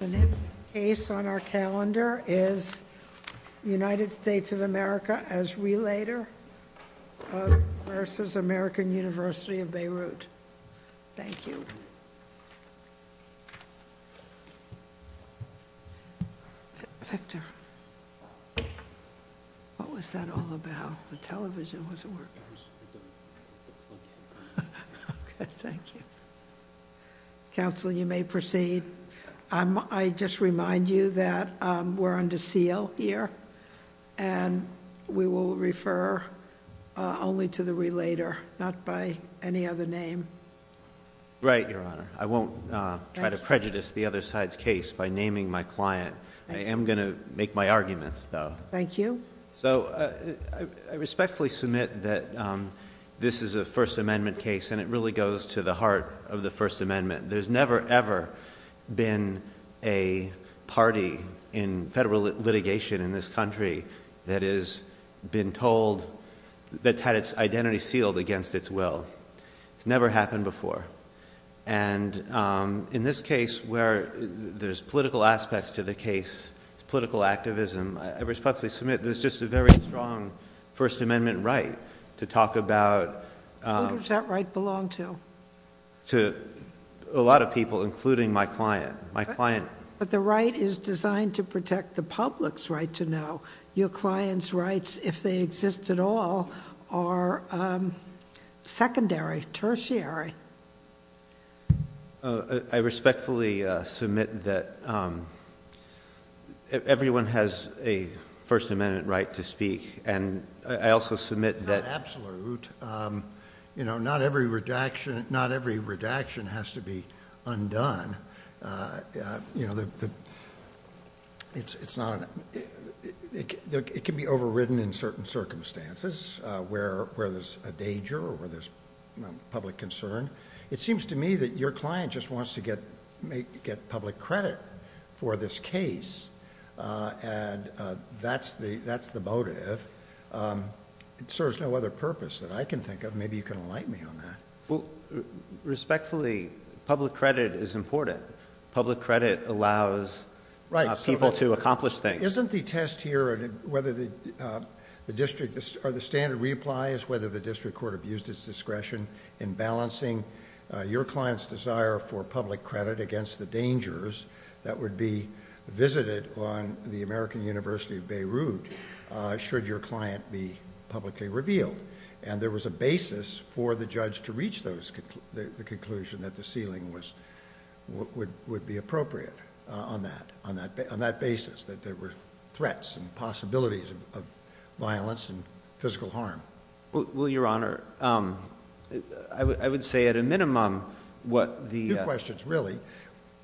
The next case on our calendar is United States of America as Relator versus American University of Beirut. Thank you. Victor, what was that all about? The television wasn't working. Okay, thank you. Counsel, you may proceed. I just remind you that we're under seal here, and we will refer only to the Relator, not by any other name. Right, Your Honor. I won't try to prejudice the other side's case by naming my client. I am going to make my arguments, though. Thank you. So, I respectfully submit that this is a First Amendment case, and it really goes to the heart of the First Amendment. There's never, ever been a party in federal litigation in this country that has been told, that's had its identity sealed against its will. It's never happened before. And in this case, where there's political aspects to the case, political activism, I respectfully submit there's just a very strong First Amendment right to talk about... Who does that right belong to? To a lot of people, including my client. My client... You're assigned to protect the public's right to know. Your client's rights, if they exist at all, are secondary, tertiary. I respectfully submit that everyone has a First Amendment right to speak, and I also submit that... Not every redaction has to be undone. It can be overridden in certain circumstances, where there's a danger, or where there's public concern. It seems to me that your client just wants to get public credit for this case, and that's the motive. It serves no other purpose that I can think of. Maybe you can enlighten me on that. Respectfully, public credit is important. Public credit allows people to accomplish things. Isn't the test here, or the standard reply, is whether the district court abused its discretion in balancing your client's desire for public credit against the dangers that would be visited on the American University of Beirut? Should your client be publicly revealed? There was a basis for the judge to reach the conclusion that the sealing would be appropriate on that basis. That there were threats and possibilities of violence and physical harm. Well, Your Honor, I would say at a minimum... Two questions, really.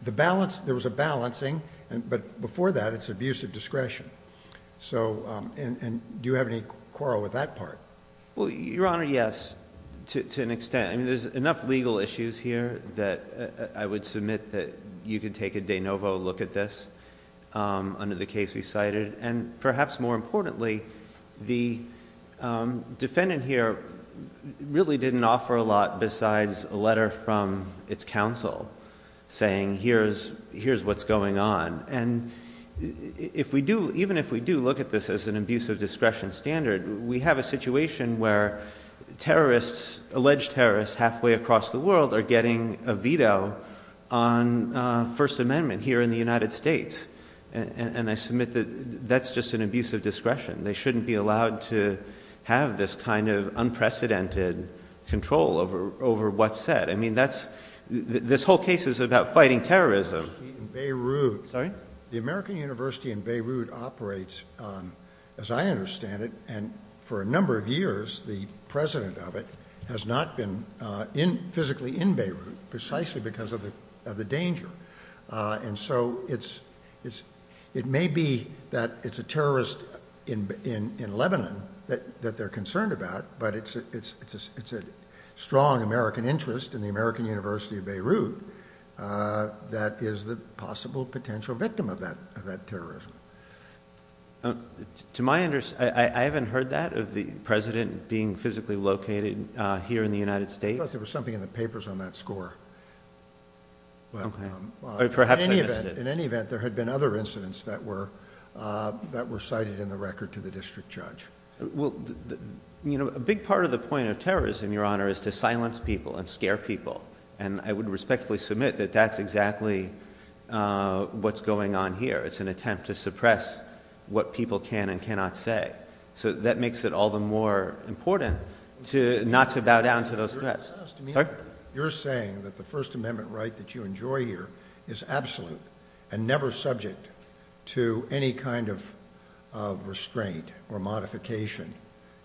There was a balancing, but before that, it's abuse of discretion. Do you have any quarrel with that part? Well, Your Honor, yes, to an extent. There's enough legal issues here that I would submit that you could take a de novo look at this under the case we cited. Perhaps more importantly, the defendant here really didn't offer a lot besides a letter from its counsel saying, here's what's going on, and even if we do look at this as an abuse of discretion standard, we have a situation where alleged terrorists halfway across the world are getting a veto on First Amendment here in the United States. And I submit that that's just an abuse of discretion. They shouldn't be allowed to have this kind of unprecedented control over what's said. I mean, this whole case is about fighting terrorism. The American University in Beirut operates, as I understand it, and for a number of years, the president of it has not been physically in Beirut precisely because of the danger. And so it may be that it's a terrorist in Lebanon that they're concerned about, but it's a strong American interest in the American University of Beirut that is the possible potential victim of that terrorism. I haven't heard that, of the president being physically located here in the United States. I thought there was something in the papers on that score. Okay. Or perhaps I missed it. In any event, there had been other incidents that were cited in the record to the district judge. Well, you know, a big part of the point of terrorism, Your Honor, is to silence people and scare people. And I would respectfully submit that that's exactly what's going on here. It's an attempt to suppress what people can and cannot say. So that makes it all the more important not to bow down to those threats. You're saying that the First Amendment right that you enjoy here is absolute and never subject to any kind of restraint or modification.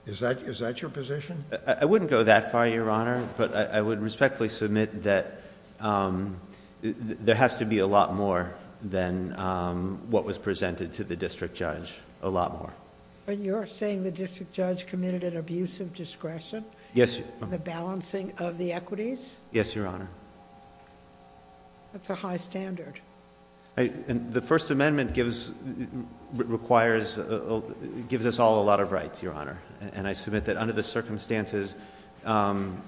Is that your position? I wouldn't go that far, Your Honor, but I would respectfully submit that there has to be a lot more than what was presented to the district judge. A lot more. But you're saying the district judge committed an abuse of discretion? Yes. The balancing of the equities? Yes, Your Honor. That's a high standard. And the First Amendment gives, requires, gives us all a lot of rights, Your Honor. And I submit that under the circumstances,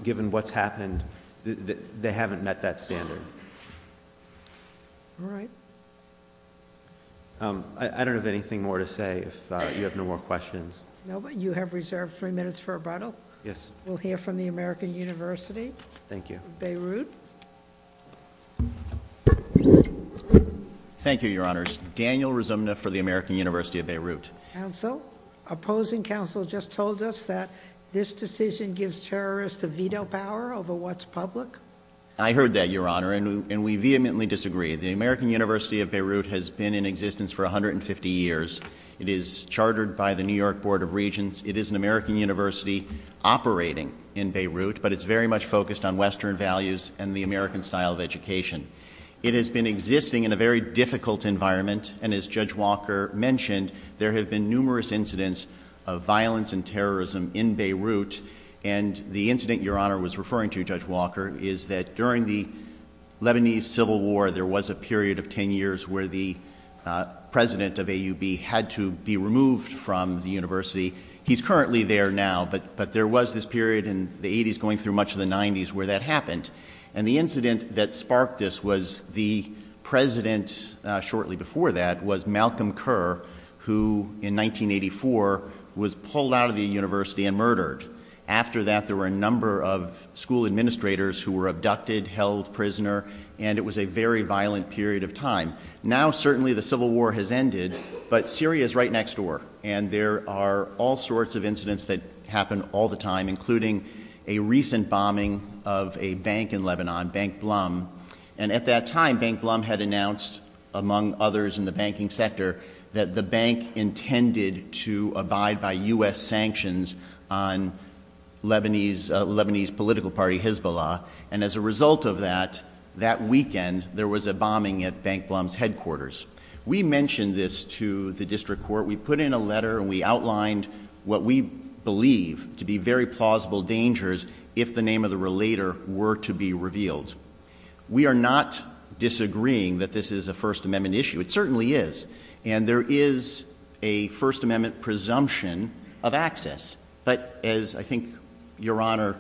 given what's happened, they haven't met that standard. All right. I don't have anything more to say. If you have no more questions. No, but you have reserved three minutes for rebuttal. Yes. We'll hear from the American University. Thank you. Beirut. Thank you, Your Honor. Daniel Rizumna for the American University of Beirut. Counsel? Opposing counsel just told us that this decision gives terrorists the veto power over what's public. I heard that, Your Honor, and we vehemently disagree. The American University of Beirut has been in existence for 150 years. It is chartered by the New York Board of Regents. It is an American university operating in Beirut, but it's very much focused on Western values and the American style of education. It has been existing in a very difficult environment, and as Judge Walker mentioned, there have been numerous incidents of violence and terrorism in Beirut, and the incident Your Honor was referring to, Judge Walker, is that during the Lebanese Civil War, there was a period of 10 years where the president of AUB had to be removed from the university. He's currently there now, but there was this period in the 80s going through much of the 90s where that happened, and the incident that sparked this was the president shortly before that was Malcolm Kerr, who in 1984 was pulled out of the university and murdered. After that, there were a number of school administrators who were abducted, held prisoner, and it was a very violent period of time. Now, certainly, the Civil War has ended, but Syria is right next door, and there are all sorts of incidents that happen all the time, including a recent bombing of a bank in Lebanon, Bank Blum. And at that time, Bank Blum had announced, among others in the banking sector, that the bank intended to abide by U.S. sanctions on Lebanese political party Hezbollah, and as a result of that, that weekend, there was a bombing at Bank Blum's headquarters. We mentioned this to the district court. We put in a letter, and we outlined what we believe to be very plausible dangers if the name of the relator were to be revealed. We are not disagreeing that this is a First Amendment issue. It certainly is, and there is a First Amendment presumption of access. But as, I think, Your Honor,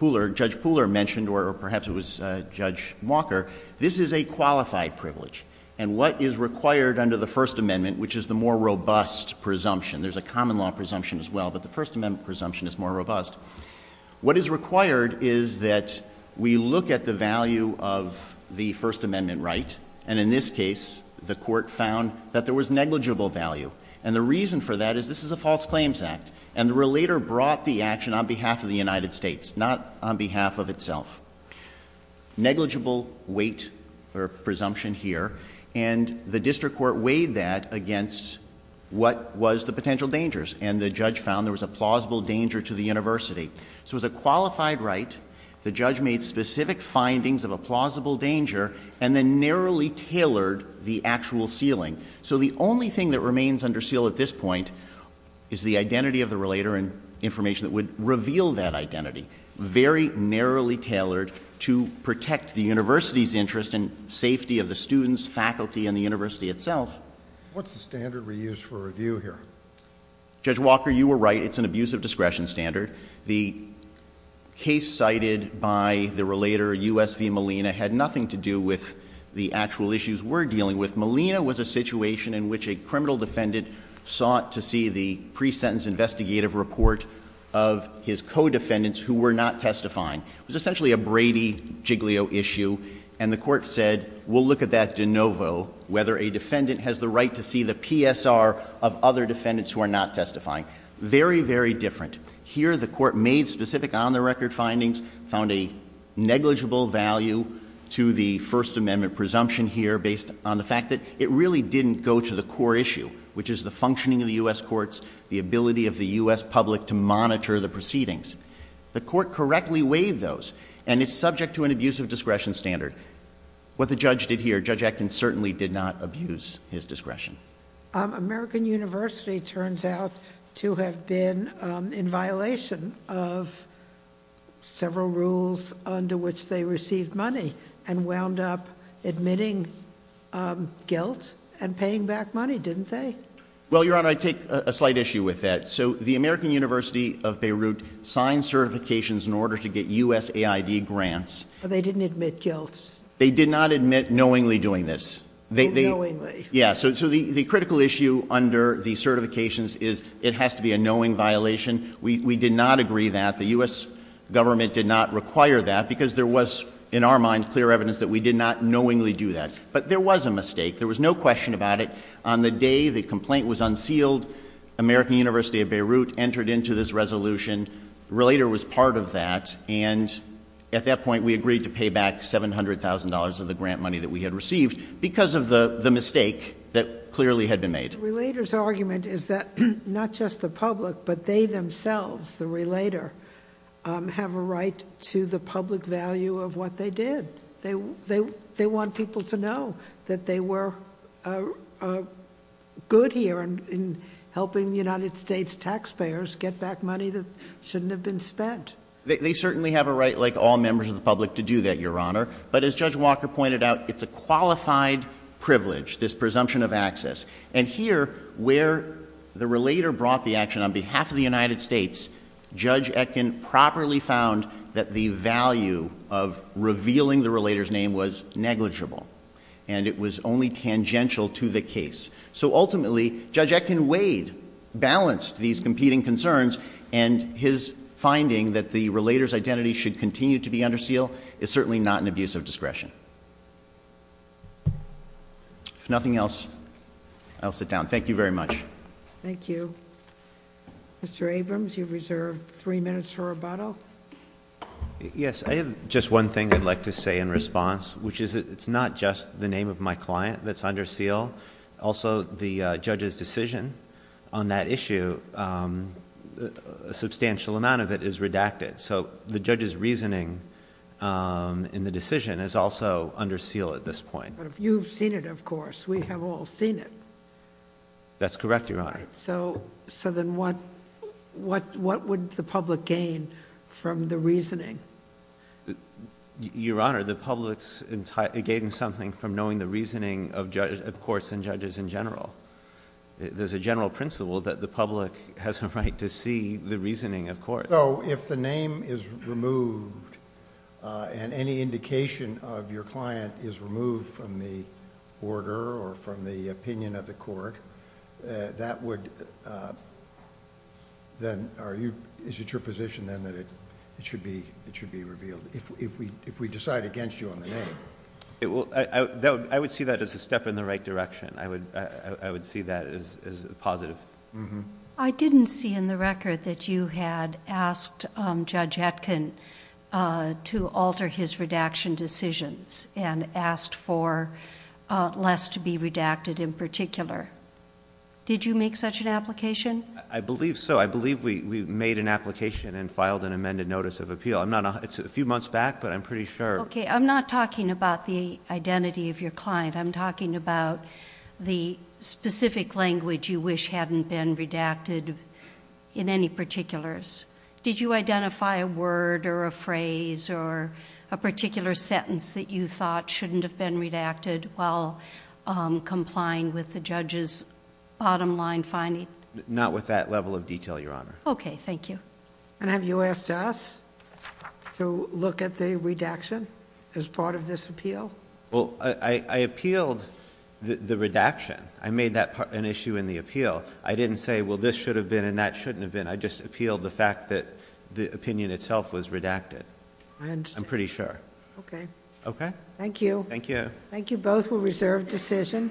Judge Pooler mentioned, or perhaps it was Judge Walker, this is a qualified privilege. And what is required under the First Amendment, which is the more robust presumption, there's a common law presumption as well, but the First Amendment presumption is more robust, what is required is that we look at the value of the First Amendment right, and in this case, the court found that there was negligible value. And the reason for that is this is a false claims act, and the relator brought the action on behalf of the United States, not on behalf of itself. Negligible weight or presumption here, and the district court weighed that against what was the potential dangers, and the judge found there was a plausible danger to the university. So it was a qualified right. The judge made specific findings of a plausible danger, and then narrowly tailored the actual sealing. So the only thing that remains under seal at this point is the identity of the relator, and information that would reveal that identity. Very narrowly tailored to protect the university's interest in safety of the students, faculty, and the university itself. What's the standard we use for review here? Judge Walker, you were right, it's an abuse of discretion standard. The case cited by the relator, U.S. v. Molina, had nothing to do with the actual issues we're dealing with. Molina was a situation in which a criminal defendant sought to see the pre-sentence investigative report of his co-defendants who were not testifying. It was essentially a Brady-Giglio issue, and the court said, we'll look at that de novo, whether a defendant has the right to see the PSR of other defendants who are not testifying. Very, very different. The court made specific on-the-record findings, found a negligible value to the First Amendment presumption here based on the fact that it really didn't go to the core issue, which is the functioning of the U.S. courts, the ability of the U.S. public to monitor the proceedings. The court correctly weighed those, and it's subject to an abuse of discretion standard. What the judge did here, Judge Atkins certainly did not abuse his discretion. American University turns out to have been in violation of several rules under which they received money and wound up admitting guilt and paying back money, didn't they? Well, Your Honor, I take a slight issue with that. So the American University of Beirut signed certifications in order to get U.S. AID grants. They didn't admit guilt. They did not admit knowingly doing this. Knowingly. The critical issue under the certifications is it has to be a knowing violation. We did not agree that. The U.S. government did not require that because there was, in our mind, clear evidence that we did not knowingly do that. But there was a mistake. There was no question about it. On the day the complaint was unsealed, American University of Beirut entered into this resolution, the relator was part of that, and at that point we agreed to pay back $700,000 of the grant money that we had received because of the mistake that clearly had been made. The relator's argument is that not just the public, but they themselves, the relator, have a right to the public value of what they did. They want people to know that they were good here in helping the United States taxpayers get back money that shouldn't have been spent. They certainly have a right, like all members of the public, to do that, Your Honor. But as Judge Walker pointed out, it's a qualified privilege, this presumption of access. And here, where the relator brought the action on behalf of the United States, Judge Etkin properly found that the value of revealing the relator's name was negligible, and it was only tangential to the case. So ultimately, Judge Etkin weighed, balanced these competing concerns, and his finding that the relator's identity should continue to be under seal is certainly not an abuse of discretion. If nothing else, I'll sit down. Thank you very much. Thank you. Mr. Abrams, you've reserved three minutes for rebuttal. Yes, I have just one thing I'd like to say in response, which is it's not just the name of my client that's under seal. Also, the judge's decision on that issue, a substantial amount of it is redacted. So the judge's reasoning in the decision is also under seal at this point. But you've seen it, of course. We have all seen it. That's correct, Your Honor. So then what would the public gain from the reasoning? Your Honor, the public's gaining something from knowing the reasoning of courts and judges in general. There's a general principle that the public has a right to see the reasoning of courts. So if the name is removed and any indication of your client is removed from the order or from the opinion of the court, is it your position then that it should be revealed if we decide against you on the name? I would see that as a step in the right direction. I would see that as positive. I didn't see in the record that you had asked Judge Etkin to alter his redaction decisions and asked for less to be redacted in particular. Did you make such an application? I believe so. I believe we made an application and filed an amended notice of appeal. It's a few months back, but I'm pretty sure. Okay. I'm not talking about the identity of your client. I'm talking about the specific language you wish hadn't been redacted in any particulars. Did you identify a word or a phrase or a particular sentence that you thought shouldn't have been redacted while complying with the judge's bottom line finding? Not with that level of detail, Your Honor. Okay. Thank you. And have you asked us to look at the redaction as part of this appeal? Well, I appealed the redaction. I made that an issue in the appeal. I didn't say, well, this should have been and that shouldn't have been. I just appealed the fact that the opinion itself was redacted. I understand. I'm pretty sure. Okay. Okay? Thank you. Thank you. Thank you both. We'll reserve decision.